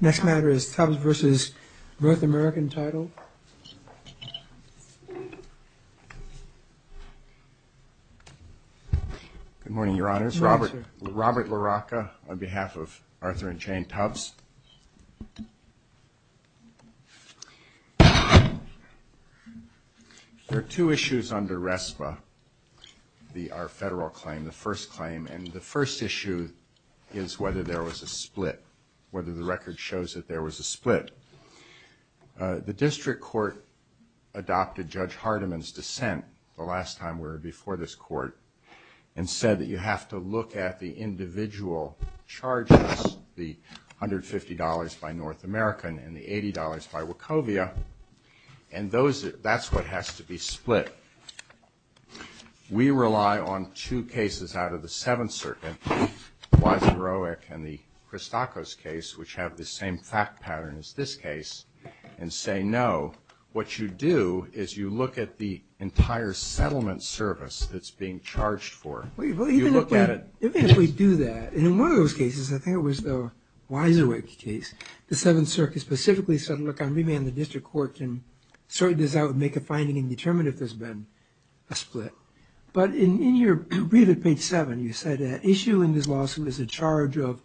Next matter is Tubbs v. North American Title. Good morning, Your Honors. Robert LaRocca on behalf of Arthur and Jane Tubbs. There are two issues under RESPA, our federal claim, the first claim. And the first issue is whether there was a split, whether the record shows that there was a split. The district court adopted Judge Hardiman's dissent the last time we were before this court and said that you have to look at the individual charges, the $150 by North American and the $80 by Wachovia. And that's what has to be split. We rely on two cases out of the Seventh Circuit, Weiserwick and the Christakos case, which have the same fact pattern as this case, and say no. What you do is you look at the entire settlement service that's being charged for. You look at it. Even if we do that, in one of those cases, I think it was the Weiserwick case, the Seventh Circuit specifically said, look, maybe the district court can sort this out and make a finding and determine if there's been a split. But in your brief at page 7, you said that issue in this lawsuit is a charge of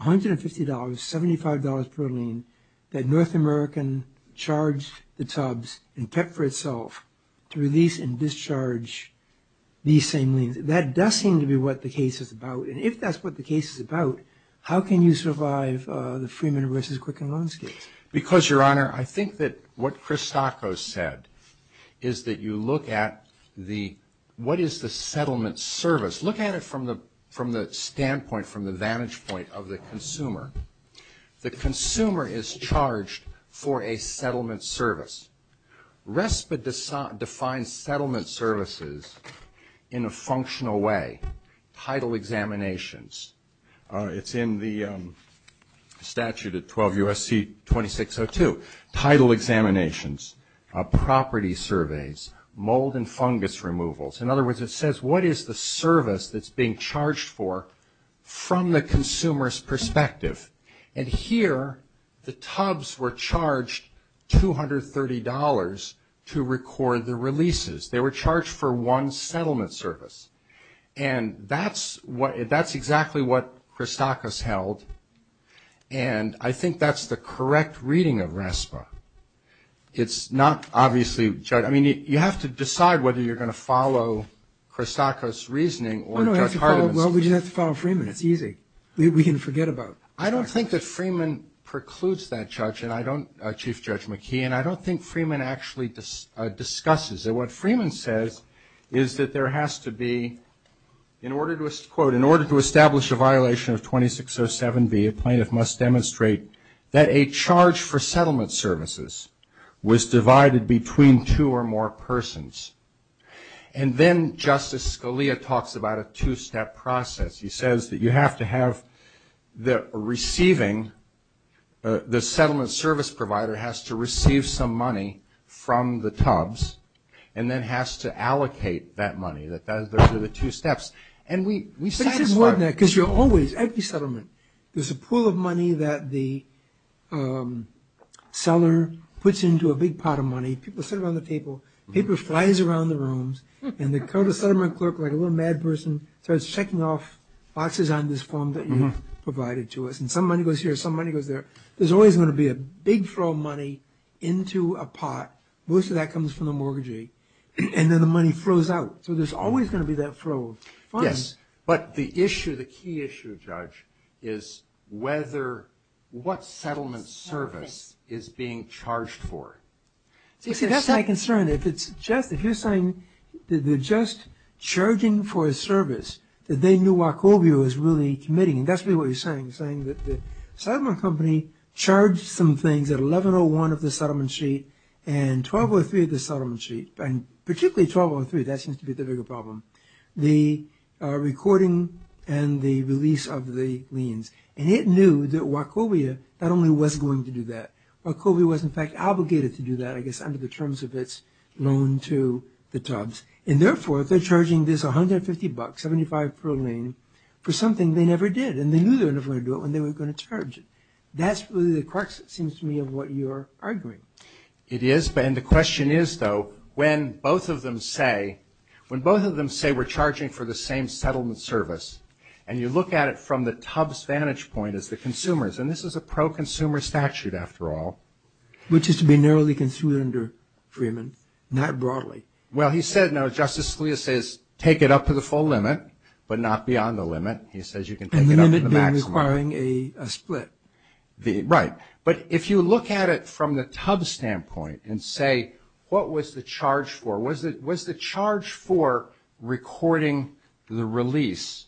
$150, $75 per lien that North American charged the Tubbs and pepped for itself to release and discharge these same liens. That does seem to be what the case is about. And if that's what the case is about, how can you survive the Freeman v. Quicken loan scheme? Because, Your Honor, I think that what Christakos said is that you look at what is the settlement service. Look at it from the standpoint, from the vantage point of the consumer. The consumer is charged for a settlement service. RESPA defines settlement services in a functional way, title examinations. It's in the statute at 12 U.S.C. 2602. Title examinations, property surveys, mold and fungus removals. In other words, it says what is the service that's being charged for from the consumer's perspective. And here, the Tubbs were charged $230 to record the releases. They were charged for one settlement service. And that's exactly what Christakos held. And I think that's the correct reading of RESPA. You have to decide whether you're going to follow Christakos' reasoning or Judge Hardiman's. Well, we just have to follow Freeman. It's easy. We can forget about it. I don't think that Freeman precludes that, Chief Judge McKee. And I don't think Freeman actually discusses it. What Freeman says is that there has to be, in order to establish a violation of 2607B, a plaintiff must demonstrate that a charge for settlement services was divided between two or more persons. And then Justice Scalia talks about a two-step process. He says that you have to have the receiving, the settlement service provider has to receive some money from the Tubbs and then has to allocate that money. Those are the two steps. But he says more than that, because you're always, every settlement, there's a pool of money that the seller puts into a big pot of money. People sit around the table, paper flies around the rooms, and the settlement clerk, like a little mad person, starts checking off boxes on this form that you've provided to us. And some money goes here, some money goes there. There's always going to be a big flow of money into a pot. Most of that comes from the mortgagee. And then the money flows out. So there's always going to be that flow. Yes, but the issue, the key issue, Judge, is whether, what settlement service is being charged for. See, that's my concern. If it's just, if you're saying that they're just charging for a service, that they knew Wachovia was really committing, and that's really what you're saying. You're saying that the settlement company charged some things at 1101 of the settlement sheet and 1203 of the settlement sheet, and particularly 1203, that seems to be the bigger problem, the recording and the release of the liens. And it knew that Wachovia not only was going to do that, Wachovia was in fact obligated to do that, I guess under the terms of its loan to the Tubbs. And therefore, they're charging this $150, 75 per lien, for something they never did. And they knew they were never going to do it when they were going to charge it. That's really the crux, it seems to me, of what you're arguing. It is, and the question is, though, when both of them say we're charging for the same settlement service, and you look at it from the Tubbs vantage point as the consumers, and this is a pro-consumer statute, after all. Which is to be narrowly construed under Freeman, not broadly. Well, he said, no, Justice Scalia says take it up to the full limit, but not beyond the limit. He says you can take it up to the maximum. And the limit being requiring a split. Right, but if you look at it from the Tubbs standpoint and say what was the charge for, was the charge for recording the release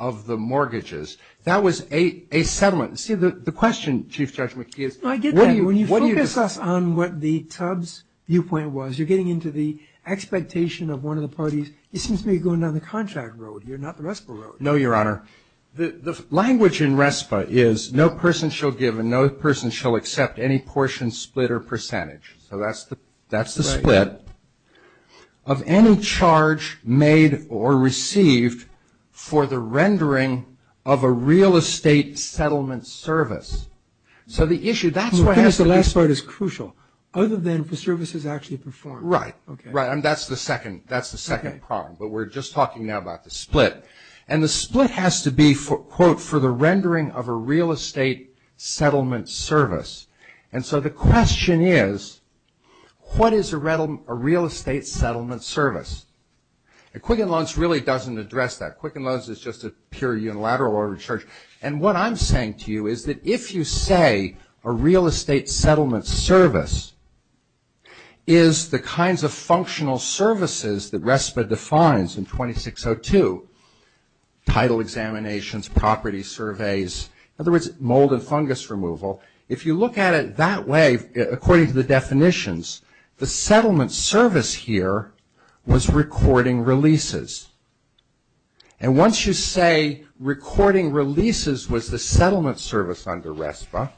of the mortgages, that was a settlement. See, the question, Chief Judge McKee, is what do you do? When you focus us on what the Tubbs viewpoint was, you're getting into the expectation of one of the parties, it seems to me you're going down the contract road here, not the RESPA road. No, Your Honor. The language in RESPA is no person shall give and no person shall accept any portion, split, or percentage. So that's the split. Of any charge made or received for the rendering of a real estate settlement service. So the issue, that's what has to be. The last part is crucial. Other than if the service is actually performed. Right, right. And that's the second problem. But we're just talking now about the split. And the split has to be, quote, for the rendering of a real estate settlement service. And so the question is, what is a real estate settlement service? And Quicken Loans really doesn't address that. Quicken Loans is just a pure unilateral order of charge. And what I'm saying to you is that if you say a real estate settlement service is the kinds of functional services that RESPA defines in 2602, title examinations, property surveys, in other words, mold and fungus removal. If you look at it that way, according to the definitions, the settlement service here was recording releases. And once you say recording releases was the settlement service under RESPA,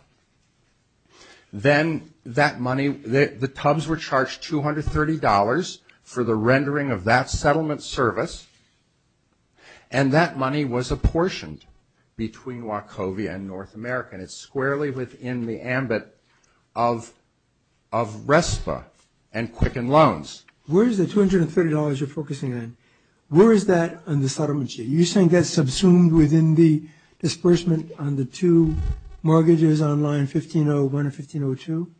then that money, the tubs were charged $230 for the rendering of that settlement service. And that money was apportioned between Wachovia and North America. And it's squarely within the ambit of RESPA and Quicken Loans. Where is the $230 you're focusing on? Where is that on the settlement sheet? You're saying that's subsumed within the disbursement on the two mortgages on line 1501 and 1502?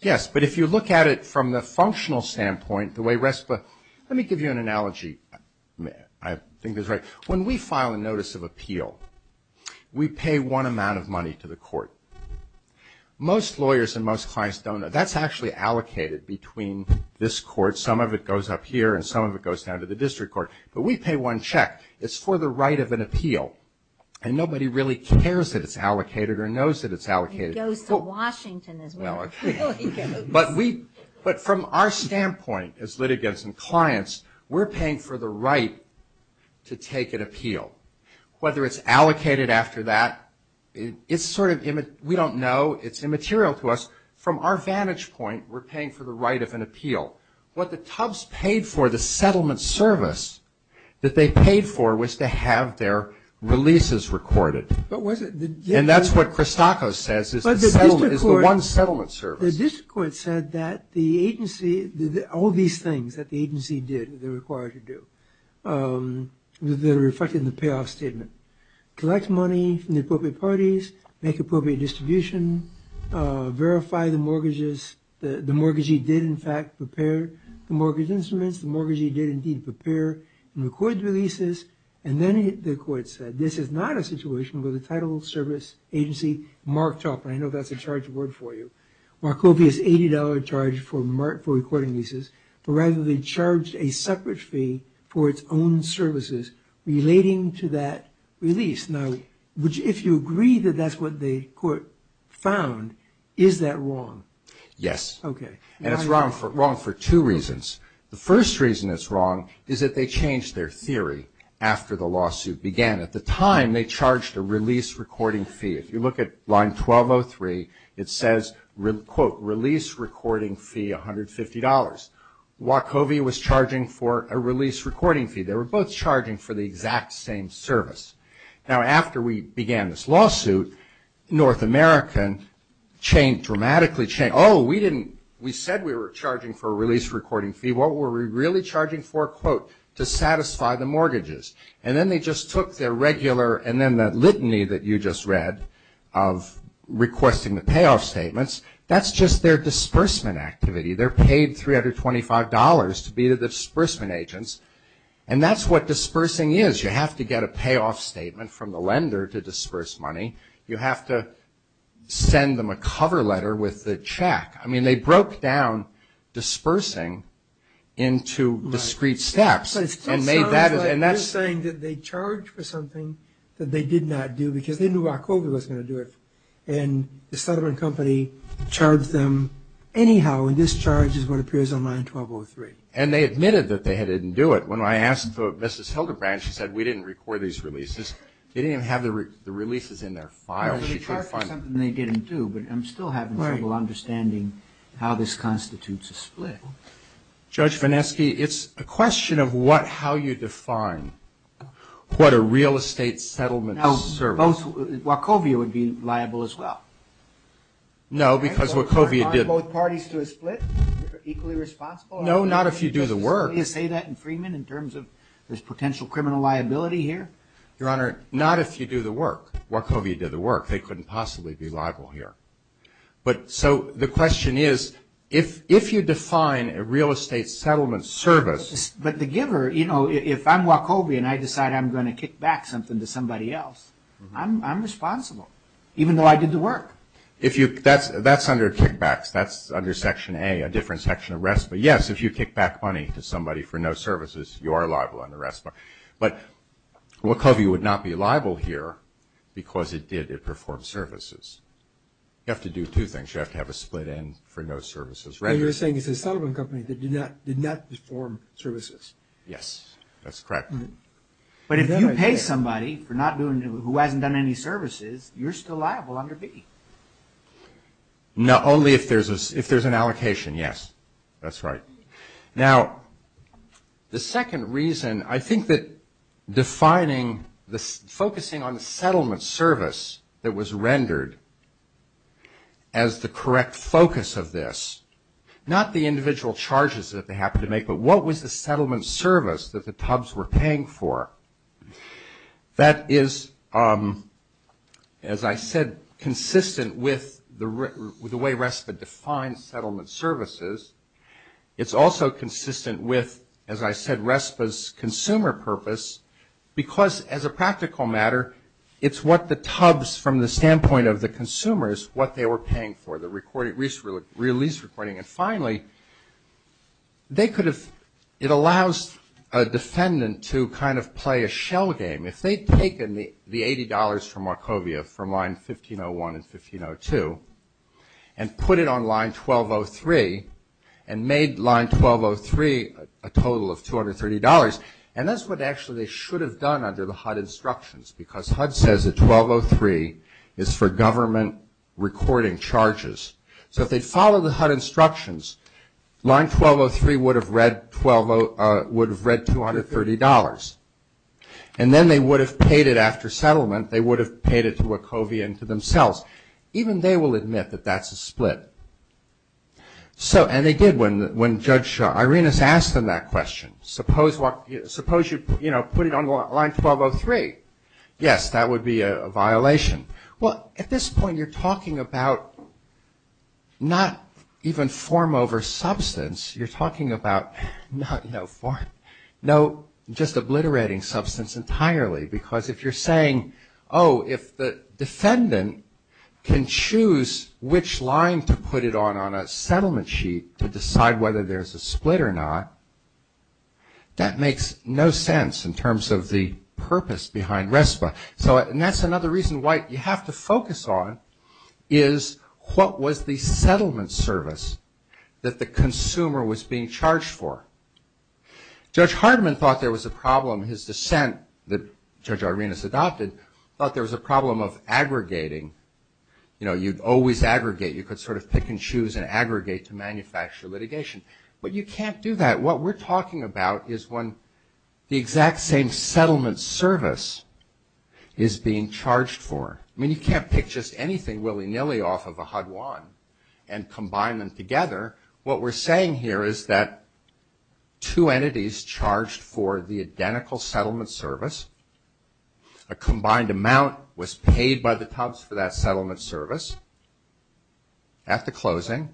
Yes, but if you look at it from the functional standpoint, the way RESPA – let me give you an analogy I think is right. When we file a notice of appeal, we pay one amount of money to the court. Most lawyers and most clients don't. That's actually allocated between this court. Some of it goes up here and some of it goes down to the district court. But we pay one check. It's for the right of an appeal. And nobody really cares that it's allocated or knows that it's allocated. It goes to Washington as well. But from our standpoint as litigants and clients, we're paying for the right to take an appeal. Whether it's allocated after that, it's sort of – we don't know. It's immaterial to us. From our vantage point, we're paying for the right of an appeal. What the Tubbs paid for, the settlement service that they paid for, was to have their releases recorded. And that's what Christoco says is the one settlement service. The district court said that the agency – all these things that the agency did that they're required to do, they're reflected in the payoff statement. Collect money from the appropriate parties, make appropriate distribution, verify the mortgages, the mortgagee did in fact prepare the mortgage instruments, the mortgagee did indeed prepare and record the releases. And then the court said, this is not a situation where the title service agency marked off – the copious $80 charge for recording leases, but rather they charged a separate fee for its own services relating to that release. Now, if you agree that that's what the court found, is that wrong? Yes. Okay. And it's wrong for two reasons. The first reason it's wrong is that they changed their theory after the lawsuit began. At the time, they charged a release recording fee. If you look at line 1203, it says, quote, release recording fee $150. Wachovia was charging for a release recording fee. They were both charging for the exact same service. Now, after we began this lawsuit, North American changed – dramatically changed. Oh, we didn't – we said we were charging for a release recording fee. What were we really charging for? Quote, to satisfy the mortgages. And then they just took their regular – and then that litany that you just read of requesting the payoff statements, that's just their disbursement activity. They're paid $325 to be the disbursement agents, and that's what dispersing is. You have to get a payoff statement from the lender to disperse money. You have to send them a cover letter with the check. I mean, they broke down dispersing into discrete steps and made that – You're saying that they charged for something that they did not do because they knew Wachovia was going to do it, and the Sutherland Company charged them anyhow, and this charge is what appears on line 1203. And they admitted that they didn't do it. When I asked Mrs. Hildebrand, she said, we didn't record these releases. They didn't even have the releases in their files. They charged for something they didn't do, but I'm still having trouble understanding how this constitutes a split. Judge Vanesky, it's a question of how you define what a real estate settlement service – Now, Wachovia would be liable as well. No, because Wachovia did – Are both parties to a split equally responsible? No, not if you do the work. Did you say that in Freeman in terms of there's potential criminal liability here? Your Honor, not if you do the work. Wachovia did the work. They couldn't possibly be liable here. So the question is, if you define a real estate settlement service – But the giver, you know, if I'm Wachovia and I decide I'm going to kick back something to somebody else, I'm responsible, even though I did the work. That's under kickbacks. That's under Section A, a different section of RESPA. Yes, if you kick back money to somebody for no services, you are liable under RESPA. But Wachovia would not be liable here because it did perform services. You have to do two things. You have to have a split end for no services. You're saying it's a settlement company that did not perform services. Yes, that's correct. But if you pay somebody who hasn't done any services, you're still liable under B. Only if there's an allocation, yes. That's right. Now, the second reason, I think that defining – focusing on the settlement service that was rendered as the correct focus of this, not the individual charges that they happened to make, but what was the settlement service that the Tubs were paying for? That is, as I said, consistent with the way RESPA defines settlement services. It's also consistent with, as I said, RESPA's consumer purpose because as a practical matter, it's what the Tubs, from the standpoint of the consumers, what they were paying for, the release recording. And finally, they could have – it allows a defendant to kind of play a shell game. If they'd taken the $80 from Wachovia from Line 1501 and 1502 and put it on Line 1203 and made Line 1203 a total of $230, and that's what actually they should have done under the HUD instructions because HUD says that 1203 is for government recording charges. So if they'd followed the HUD instructions, Line 1203 would have read $230. And then they would have paid it after settlement. They would have paid it to Wachovia and to themselves. Even they will admit that that's a split. And they did when Judge Irenas asked them that question. Suppose you put it on Line 1203. Yes, that would be a violation. Well, at this point, you're talking about not even form over substance. You're talking about no form, just obliterating substance entirely because if you're saying, oh, if the defendant can choose which line to put it on on a settlement sheet to decide whether there's a split or not, that makes no sense in terms of the purpose behind RESPA. And that's another reason why you have to focus on is what was the settlement service that the consumer was being charged for. Judge Hardiman thought there was a problem. His dissent that Judge Irenas adopted thought there was a problem of aggregating. You know, you'd always aggregate. You could sort of pick and choose and aggregate to manufacture litigation. But you can't do that. What we're talking about is when the exact same settlement service is being charged for. I mean, you can't pick just anything willy-nilly off of a HUD one and combine them together. What we're saying here is that two entities charged for the identical settlement service, a combined amount was paid by the Tubbs for that settlement service at the closing,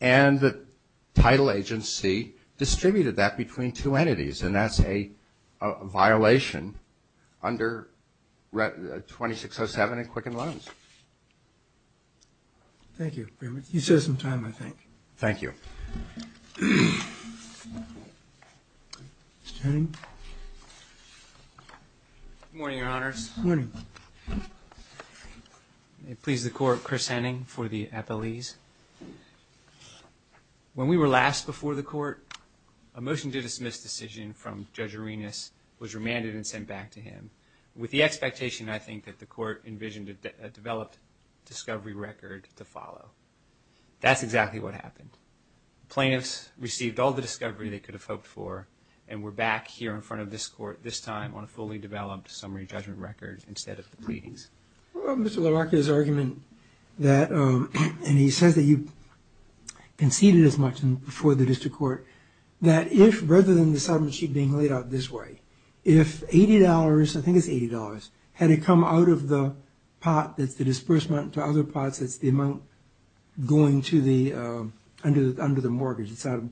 and the title agency distributed that between two entities, and that's a violation under 2607 in Quicken Loans. Thank you very much. You still have some time, I think. Thank you. Good morning, Your Honors. Good morning. May it please the Court, Chris Henning for the appellees. When we were last before the Court, a motion to dismiss decision from Judge Irenas was remanded and sent back to him. With the expectation, I think, that the Court envisioned a developed discovery record to follow. That's exactly what happened. Plaintiffs received all the discovery they could have hoped for and were back here in front of this Court, this time on a fully developed summary judgment record instead of the pleadings. Mr. LaRocca's argument that, and he says that you conceded as much before the district court, that if rather than the settlement sheet being laid out this way, if $80, I think it's $80, had it come out of the pot that's the disbursement to other pots, that's the amount going to the, under the mortgage, it's out of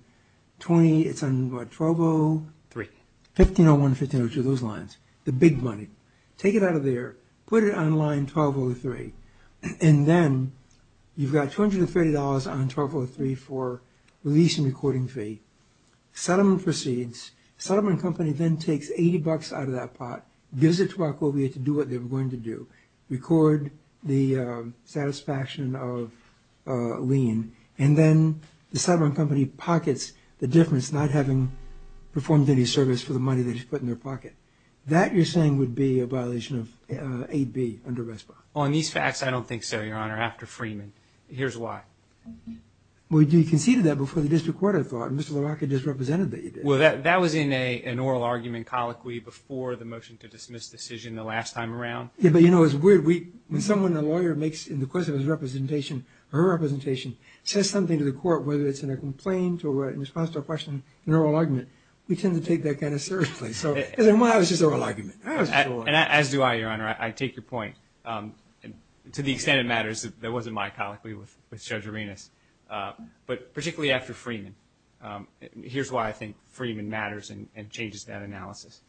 20, it's on what, 1203? 1501 and 1502, those lines, the big money. Take it out of there, put it on line 1203, and then you've got $230 on 1203 for the leasing recording fee. Settlement proceeds. Settlement company then takes $80 out of that pot, gives it to Barcovia to do what they were going to do, record the satisfaction of lien, and then the settlement company pockets the difference, not having performed any service for the money they just put in their pocket. That, you're saying, would be a violation of 8B under Westbrook. On these facts, I don't think so, Your Honor, after Freeman. Here's why. Well, you conceded that before the district court, I thought, and Mr. LaRocca just represented that you did. Well, that was in an oral argument colloquy before the motion to dismiss decision the last time around. Yeah, but, you know, it's weird. When someone, a lawyer, makes, in the course of his representation, her representation, says something to the court, whether it's in a complaint or in response to a question, an oral argument, we tend to take that kind of seriously. Because in my eyes, it's just an oral argument. As do I, Your Honor. I take your point. To the extent it matters, there was a mycology with Judge Arenas. But particularly after Freeman, here's why I think Freeman matters and changes that analysis.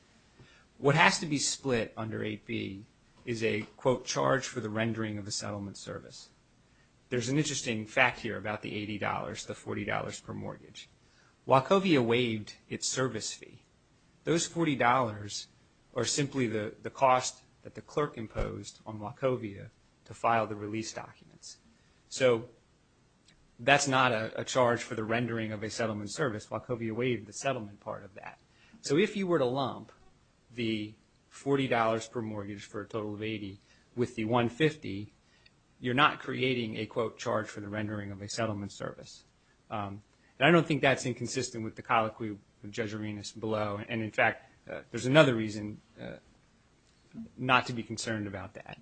What has to be split under 8B is a, quote, charge for the rendering of a settlement service. There's an interesting fact here about the $80, the $40 per mortgage. Wachovia waived its service fee. Those $40 are simply the cost that the clerk imposed on Wachovia to file the release documents. So that's not a charge for the rendering of a settlement service. Wachovia waived the settlement part of that. So if you were to lump the $40 per mortgage for a total of $80 with the $150, you're not creating a, quote, charge for the rendering of a settlement service. And I don't think that's inconsistent with the colloquy of Judge Arenas below. And, in fact, there's another reason not to be concerned about that.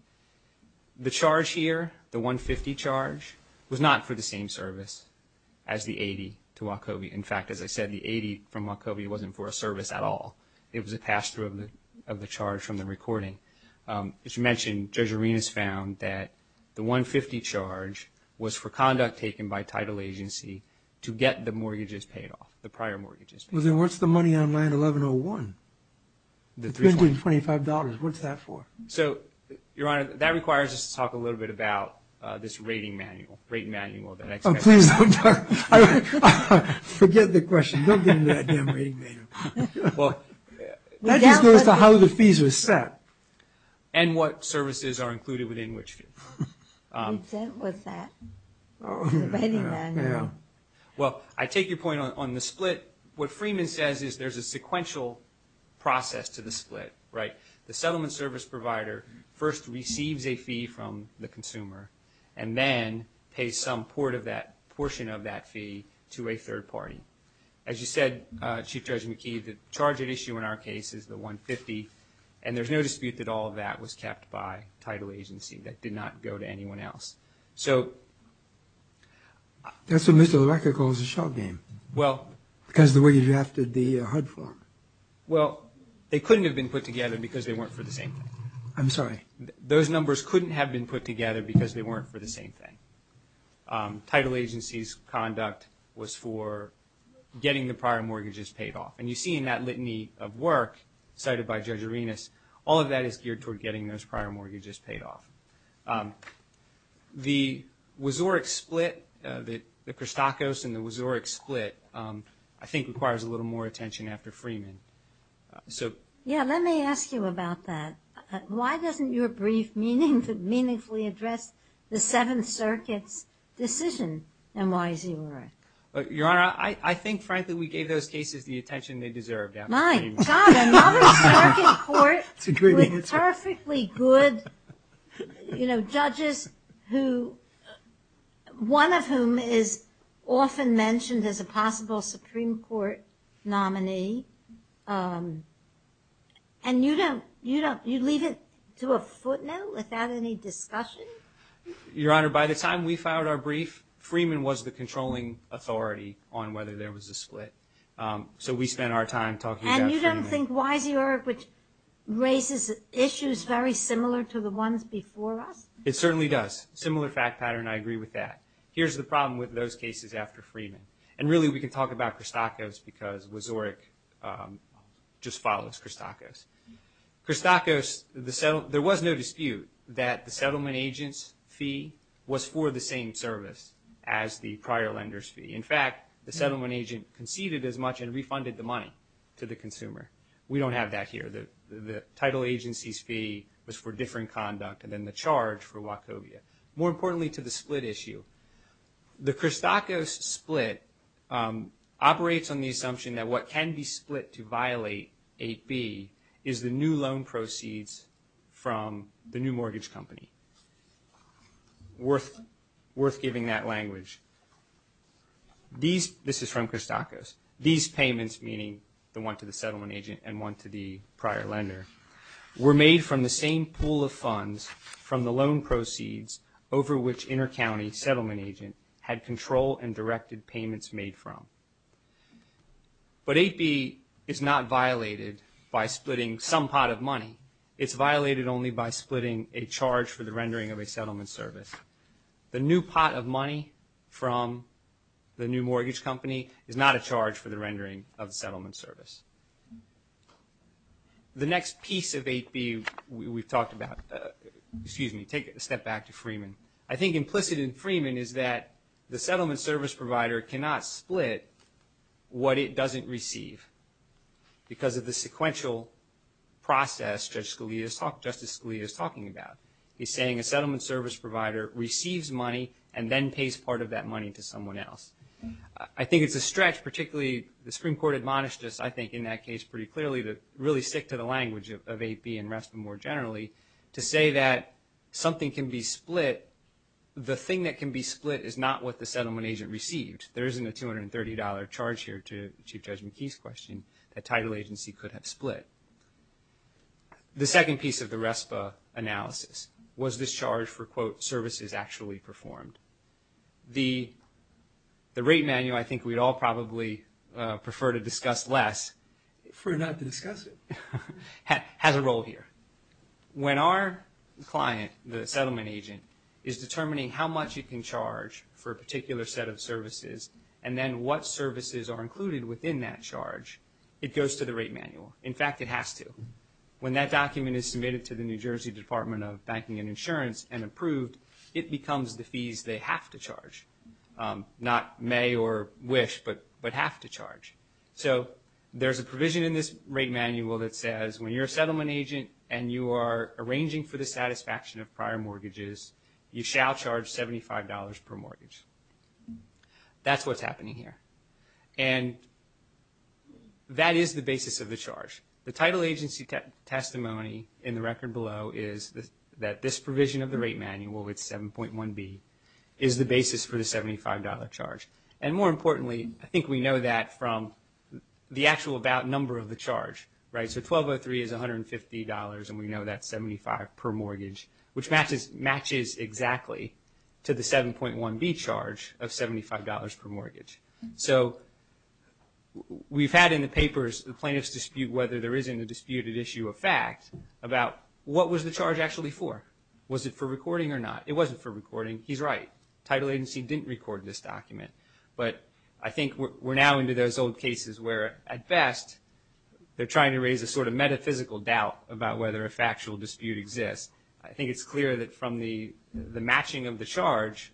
The charge here, the $150 charge, was not for the same service as the $80 to Wachovia. In fact, as I said, the $80 from Wachovia wasn't for a service at all. It was a pass-through of the charge from the recording. As you mentioned, Judge Arenas found that the $150 charge was for conduct taken by title agency to get the mortgages paid off, the prior mortgages paid off. Well, then what's the money on line 1101? The $325. What's that for? So, Your Honor, that requires us to talk a little bit about this rating manual, rate manual that I just mentioned. Oh, please don't talk about it. Forget the question. Don't get into that damn rating manual. Well, that just goes to how the fees were set. And what services are included within Wachovia. Who sent us that rating manual? Well, I take your point on the split. What Freeman says is there's a sequential process to the split. The settlement service provider first receives a fee from the consumer and then pays some portion of that fee to a third party. As you said, Chief Judge McKee, the charge at issue in our case is the $150, and there's no dispute that all of that was kept by title agency. That did not go to anyone else. So. That's what Mr. LaRocca calls a shot game. Well. Because of the way you drafted the HUD form. Well, they couldn't have been put together because they weren't for the same thing. I'm sorry. Those numbers couldn't have been put together because they weren't for the same thing. Title agency's conduct was for getting the prior mortgages paid off. And you see in that litany of work cited by Judge Arenas, all of that is geared toward getting those prior mortgages paid off. The Wazoric split, the Christakos and the Wazoric split, I think requires a little more attention after Freeman. Yeah, let me ask you about that. Why doesn't your brief meaningfully address the Seventh Circuit's decision, and why is he right? Your Honor, I think, frankly, we gave those cases the attention they deserved after Freeman. My God, another circuit court with perfectly good judges who, one of whom is often mentioned as a possible Supreme Court nominee. And you leave it to a footnote without any discussion? Your Honor, by the time we filed our brief, Freeman was the controlling authority on whether there was a split. So we spent our time talking about Freeman. And you don't think, why is Wazoric, which raises issues very similar to the ones before us? It certainly does. Similar fact pattern, I agree with that. Here's the problem with those cases after Freeman. And really, we can talk about Christakos because Wazoric just follows Christakos. Christakos, there was no dispute that the settlement agent's fee was for the same service as the prior lender's fee. In fact, the settlement agent conceded as much and refunded the money to the consumer. We don't have that here. The title agency's fee was for different conduct than the charge for Wachovia. More importantly to the split issue, the Christakos split operates on the assumption that what can be split to violate 8B is the new loan proceeds from the new mortgage company. Worth giving that language. This is from Christakos. These payments, meaning the one to the settlement agent and one to the prior lender, were made from the same pool of funds from the loan proceeds over which intercounty settlement agent had control and directed payments made from. But 8B is not violated by splitting some pot of money. It's violated only by splitting a charge for the rendering of a settlement service. The new pot of money from the new mortgage company is not a charge for the rendering of the settlement service. The next piece of 8B we've talked about, excuse me, take a step back to Freeman. I think implicit in Freeman is that the settlement service provider cannot split what it doesn't receive because of the sequential process Justice Scalia is talking about. He's saying a settlement service provider receives money and then pays part of that money to someone else. I think it's a stretch, particularly the Supreme Court admonished this I think in that case pretty clearly to really stick to the language of 8B and RESPA more generally to say that something can be split. The thing that can be split is not what the settlement agent received. There isn't a $230 charge here to Chief Judge McKee's question that title agency could have split. The second piece of the RESPA analysis was this charge for quote services actually performed. The rate manual I think we'd all probably prefer to discuss less. For not to discuss it. Has a role here. When our client, the settlement agent, is determining how much it can charge for a particular set of services and then what services are included within that charge, it goes to the rate manual. In fact, it has to. When that document is submitted to the New Jersey Department of Banking and Insurance and approved, it becomes the fees they have to charge. Not may or wish, but have to charge. So there's a provision in this rate manual that says when you're a settlement agent and you are arranging for the satisfaction of prior mortgages, you shall charge $75 per mortgage. That's what's happening here. And that is the basis of the charge. The title agency testimony in the record below is that this provision of the rate manual, it's 7.1b, is the basis for the $75 charge. And more importantly, I think we know that from the actual about number of the charge. So 1203 is $150 and we know that's 75 per mortgage, which matches exactly to the 7.1b charge of $75 per mortgage. So we've had in the papers the plaintiff's dispute whether there is in the disputed issue of fact about what was the charge actually for? Was it for recording or not? It wasn't for recording. He's right. Title agency didn't record this document. But I think we're now into those old cases where at best they're trying to raise a sort of metaphysical doubt about whether a factual dispute exists. I think it's clear that from the matching of the charge,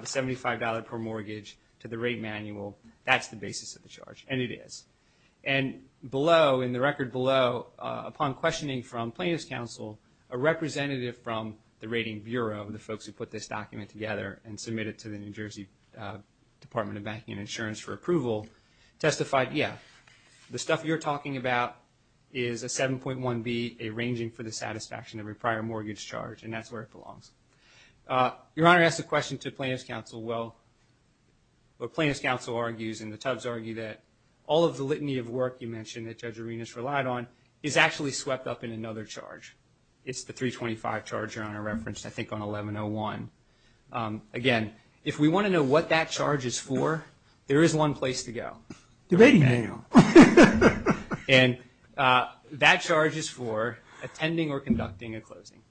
the $75 per mortgage, to the rate manual, that's the basis of the charge. And it is. And below, in the record below, upon questioning from plaintiff's counsel, a representative from the Rating Bureau, the folks who put this document together and submitted it to the New Jersey Department of Banking and Insurance for approval, testified, yeah, the stuff you're talking about is a 7.1b, a ranging for the satisfaction of a prior mortgage charge, and that's where it belongs. Your Honor asked a question to plaintiff's counsel. Well, what plaintiff's counsel argues and the Tubbs argue that all of the litany of work you mentioned that Judge Arenas relied on is actually swept up in another charge. It's the 325 charge Your Honor referenced, I think on 1101. Again, if we want to know what that charge is for, there is one place to go. The rating manual. And that charge is for attending or conducting a closing.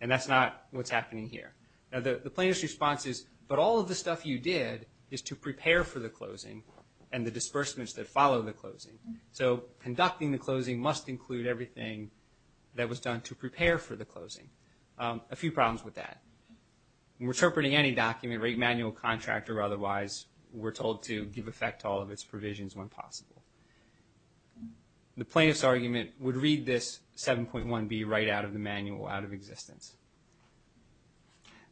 And that's not what's happening here. Now, the plaintiff's response is, but all of the stuff you did is to prepare for the closing and the disbursements that follow the closing. So conducting the closing must include everything that was done to prepare for the closing. A few problems with that. When interpreting any document, rate manual, contract, or otherwise, we're told to give effect to all of its provisions when possible. The plaintiff's argument would read this 7.1b right out of the manual, out of existence.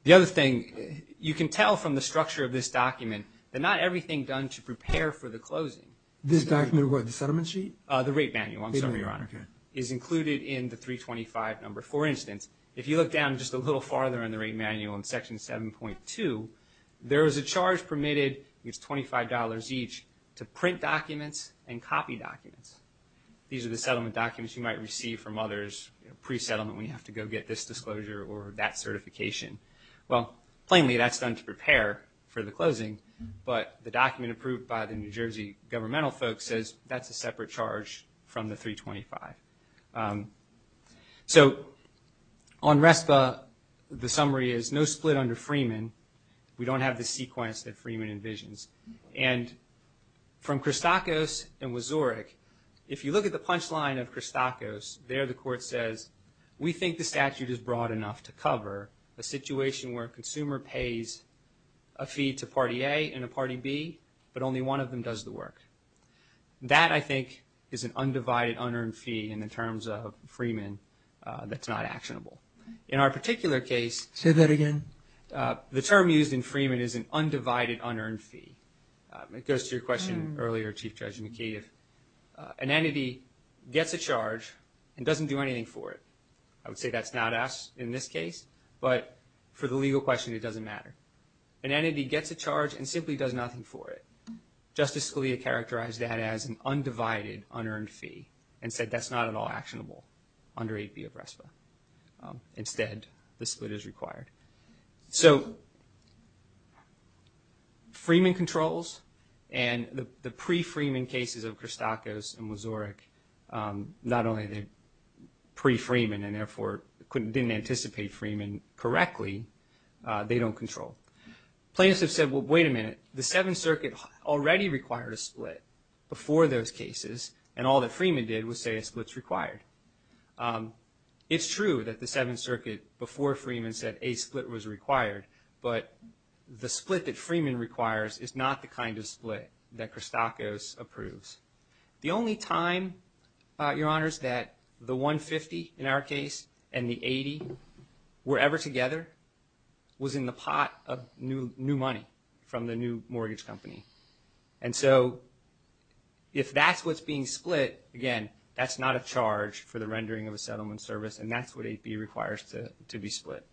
The other thing, you can tell from the structure of this document that not everything done to prepare for the closing. This document, what, the settlement sheet? The rate manual, I'm sorry, Your Honor, is included in the 325 number. For instance, if you look down just a little farther in the rate manual in Section 7.2, there is a charge permitted, it's $25 each, to print documents and copy documents. These are the settlement documents you might receive from others pre-settlement when you have to go get this disclosure or that certification. Well, plainly, that's done to prepare for the closing, but the document approved by the New Jersey governmental folks says that's a separate charge from the 325. So on RESPA, the summary is no split under Freeman. We don't have the sequence that Freeman envisions. And from Christakis and Wazurik, if you look at the punchline of Christakis, there the court says, we think the statute is broad enough to cover a situation where a consumer pays a fee to Party A and a Party B, but only one of them does the work. That, I think, is an undivided, unearned fee in the terms of Freeman that's not actionable. In our particular case... Say that again. The term used in Freeman is an undivided, unearned fee. It goes to your question earlier, Chief Judge McKeith. An entity gets a charge and doesn't do anything for it. I would say that's not us in this case, but for the legal question, it doesn't matter. An entity gets a charge and simply does nothing for it. Justice Scalia characterized that as an undivided, unearned fee and said that's not at all actionable under 8B of RESPA. Instead, the split is required. So Freeman controls, and the pre-Freeman cases of Christakis and Wazurik, not only are they pre-Freeman and therefore didn't anticipate Freeman correctly, they don't control. Plaintiffs have said, well, wait a minute. The Seventh Circuit already required a split before those cases, and all that Freeman did was say a split's required. It's true that the Seventh Circuit, before Freeman, said a split was required, but the split that Freeman requires is not the kind of split that Christakis approves. The only time, Your Honors, that the 150 in our case and the 80 were ever together was in the pot of new money from the new mortgage company. And so if that's what's being split, again, that's not a charge for the rendering of a settlement service, and that's what 8B requires to be split.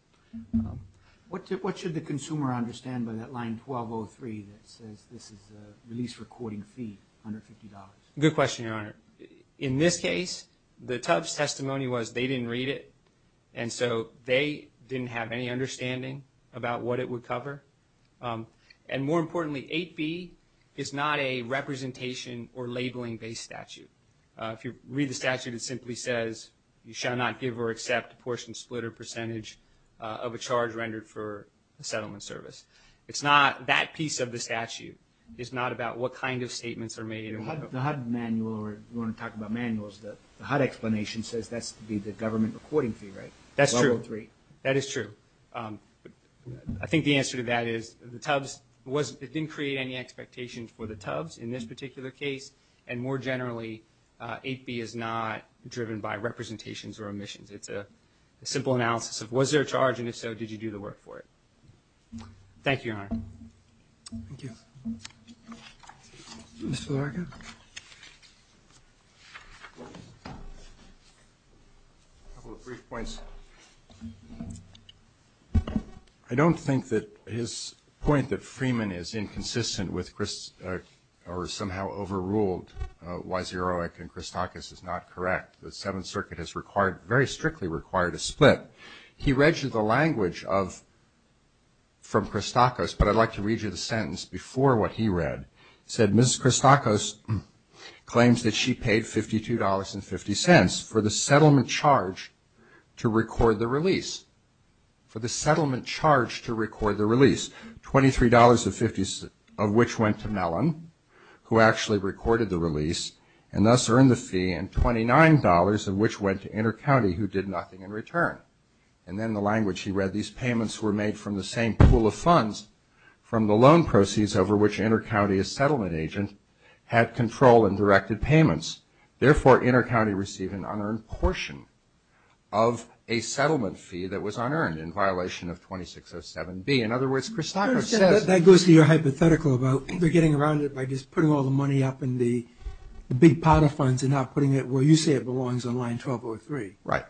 What should the consumer understand by that line 1203 that says this is a release recording fee, $150? Good question, Your Honor. In this case, the Tufts testimony was they didn't read it, and so they didn't have any understanding about what it would cover. And more importantly, 8B is not a representation or labeling-based statute. If you read the statute, it simply says you shall not give or accept a portion split or percentage of a charge rendered for a settlement service. That piece of the statute is not about what kind of statements are made. The HUD manual, or you want to talk about manuals, the HUD explanation says that's the government recording fee, right? That's true. 1203. That is true. I think the answer to that is the Tufts didn't create any expectations for the Tufts in this particular case, and more generally, 8B is not driven by representations or omissions. It's a simple analysis of was there a charge, and if so, did you do the work for it? Thank you, Your Honor. Thank you. Mr. Larkin? A couple of brief points. I don't think that his point that Freeman is inconsistent or somehow overruled Wyserowic and Christakis is not correct. The Seventh Circuit has very strictly required a split. He read you the language from Christakis, but I'd like to read you the sentence before what he read. It said, Ms. Christakis claims that she paid $52.50 for the settlement charge to record the release. For the settlement charge to record the release, $23.50 of which went to Mellon, who actually recorded the release, and thus earned the fee, and $29.00 of which went to Intercounty, who did nothing in return. And then the language he read, these payments were made from the same pool of funds from the loan proceeds over which Intercounty, a settlement agent, had control and directed payments. Therefore, Intercounty received an unearned portion of a settlement fee that was unearned in violation of 2607B. In other words, Christakis says that... I understand. That goes to your hypothetical about they're getting around it by just putting all the money up in the big pot of funds and not putting it where you say it belongs on line 1203. Right.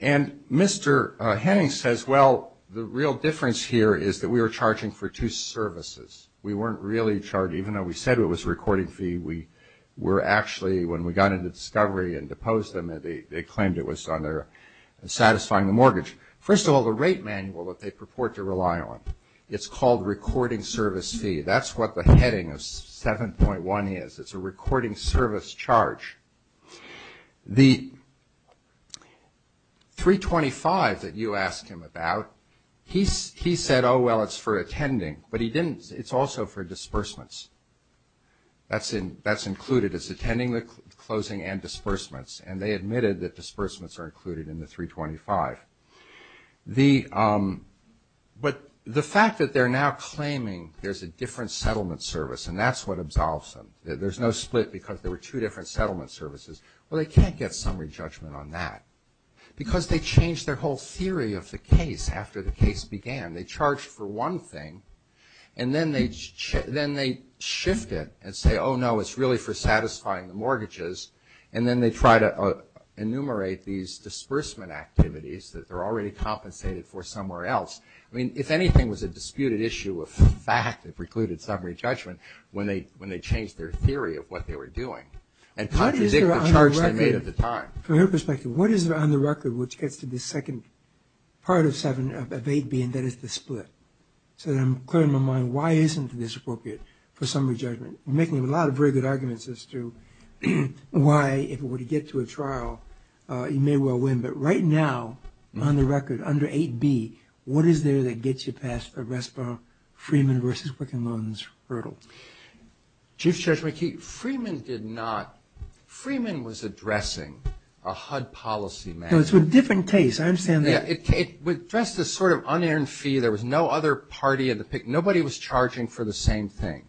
And Mr. Henning says, well, the real difference here is that we were charging for two services. We weren't really charging. Even though we said it was a recording fee, we were actually, when we got into discovery and deposed them, they claimed it was on their satisfying mortgage. First of all, the rate manual that they purport to rely on, it's called recording service fee. That's what the heading of 7.1 is. It's a recording service charge. The 325 that you asked him about, he said, oh, well, it's for attending. But he didn't... It's also for disbursements. That's included. It's attending, closing, and disbursements. And they admitted that disbursements are included in the 325. But the fact that they're now claiming there's a different settlement service, and that's what absolves them. There's no split because there were two different settlement services. Well, they can't get summary judgment on that. Because they changed their whole theory of the case after the case began. They charged for one thing, and then they shift it and say, oh, no, it's really for satisfying the mortgages. And then they try to enumerate these disbursement activities that they're already compensated for somewhere else. I mean, if anything was a disputed issue of fact, they precluded summary judgment when they changed their theory of what they were doing. And contradict the charge they made at the time. From your perspective, what is on the record which gets to the second part of 7 of 8B, and that is the split? So I'm clearing my mind, why isn't this appropriate for summary judgment? We're making a lot of very good arguments as to why, if it were to get to a trial, you may well win. But right now, on the record, under 8B, what is there that gets you past the RESPA, Freeman v. Wickin-London's hurdle? Chief Judge McKee, Freeman did not. Freeman was addressing a HUD policy matter. No, it's a different case. I understand that. It addressed a sort of unearned fee. There was no other party of the pick. Nobody was charging for the same thing.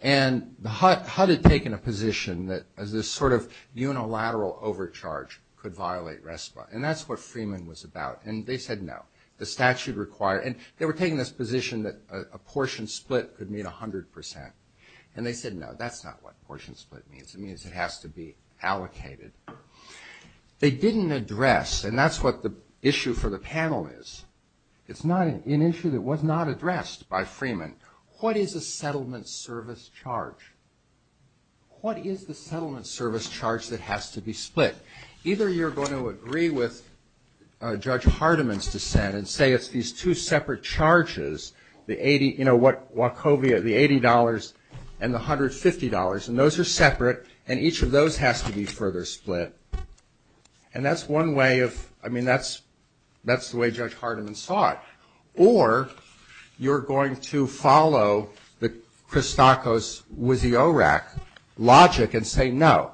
And HUD had taken a position that this sort of unilateral overcharge could violate RESPA. And that's what Freeman was about. And they said no. And they were taking this position that a portion split could mean 100%. And they said no, that's not what portion split means. It means it has to be allocated. They didn't address, and that's what the issue for the panel is. It's an issue that was not addressed by Freeman. What is a settlement service charge? What is the settlement service charge that has to be split? Either you're going to agree with Judge Hardiman's dissent and say it's these two separate charges, the $80 and the $150. And those are separate. And each of those has to be further split. And that's one way of, I mean, that's the way Judge Hardiman saw it. Or you're going to follow the Christakis-Wiziorek logic and say no.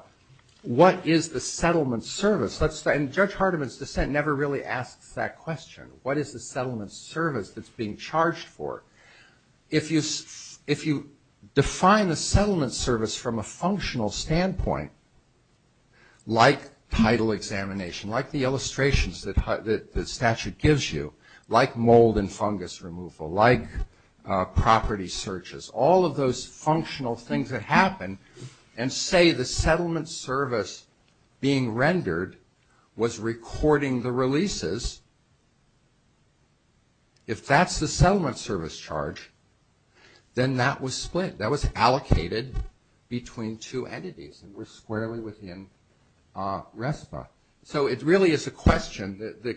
What is the settlement service? And Judge Hardiman's dissent never really asks that question. What is the settlement service that's being charged for? If you define the settlement service from a functional standpoint, like title examination, like the illustrations that the statute gives you, like mold and fungus removal, like property searches, all of those functional things that happen, and say the settlement service being rendered was recording the releases, if that's the settlement service charge, then that was split. That was allocated between two entities. It was squarely within RESPA. So it really is a question, the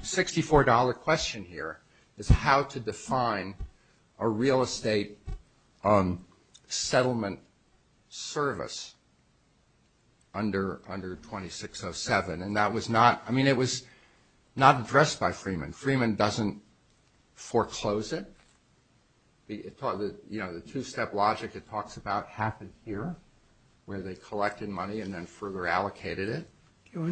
$64 question here, is how to define a real estate settlement service under 2607. And that was not, I mean, it was not addressed by Freeman. Freeman doesn't foreclose it. The two-step logic it talks about happened here, where they collected money and then further allocated it.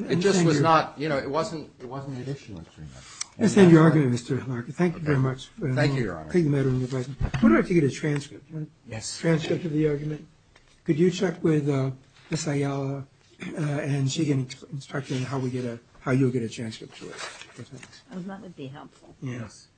It just was not, you know, it wasn't an issue with Freeman. Let's end your argument, Mr. Larkin. Thank you very much. Thank you, Your Honor. Thank you, Madam Advisor. We're going to have to get a transcript, right? Yes. A transcript of the argument. Could you check with Ms. Ayala and she can instruct you on how you'll get a transcript to it. That would be helpful. Yes.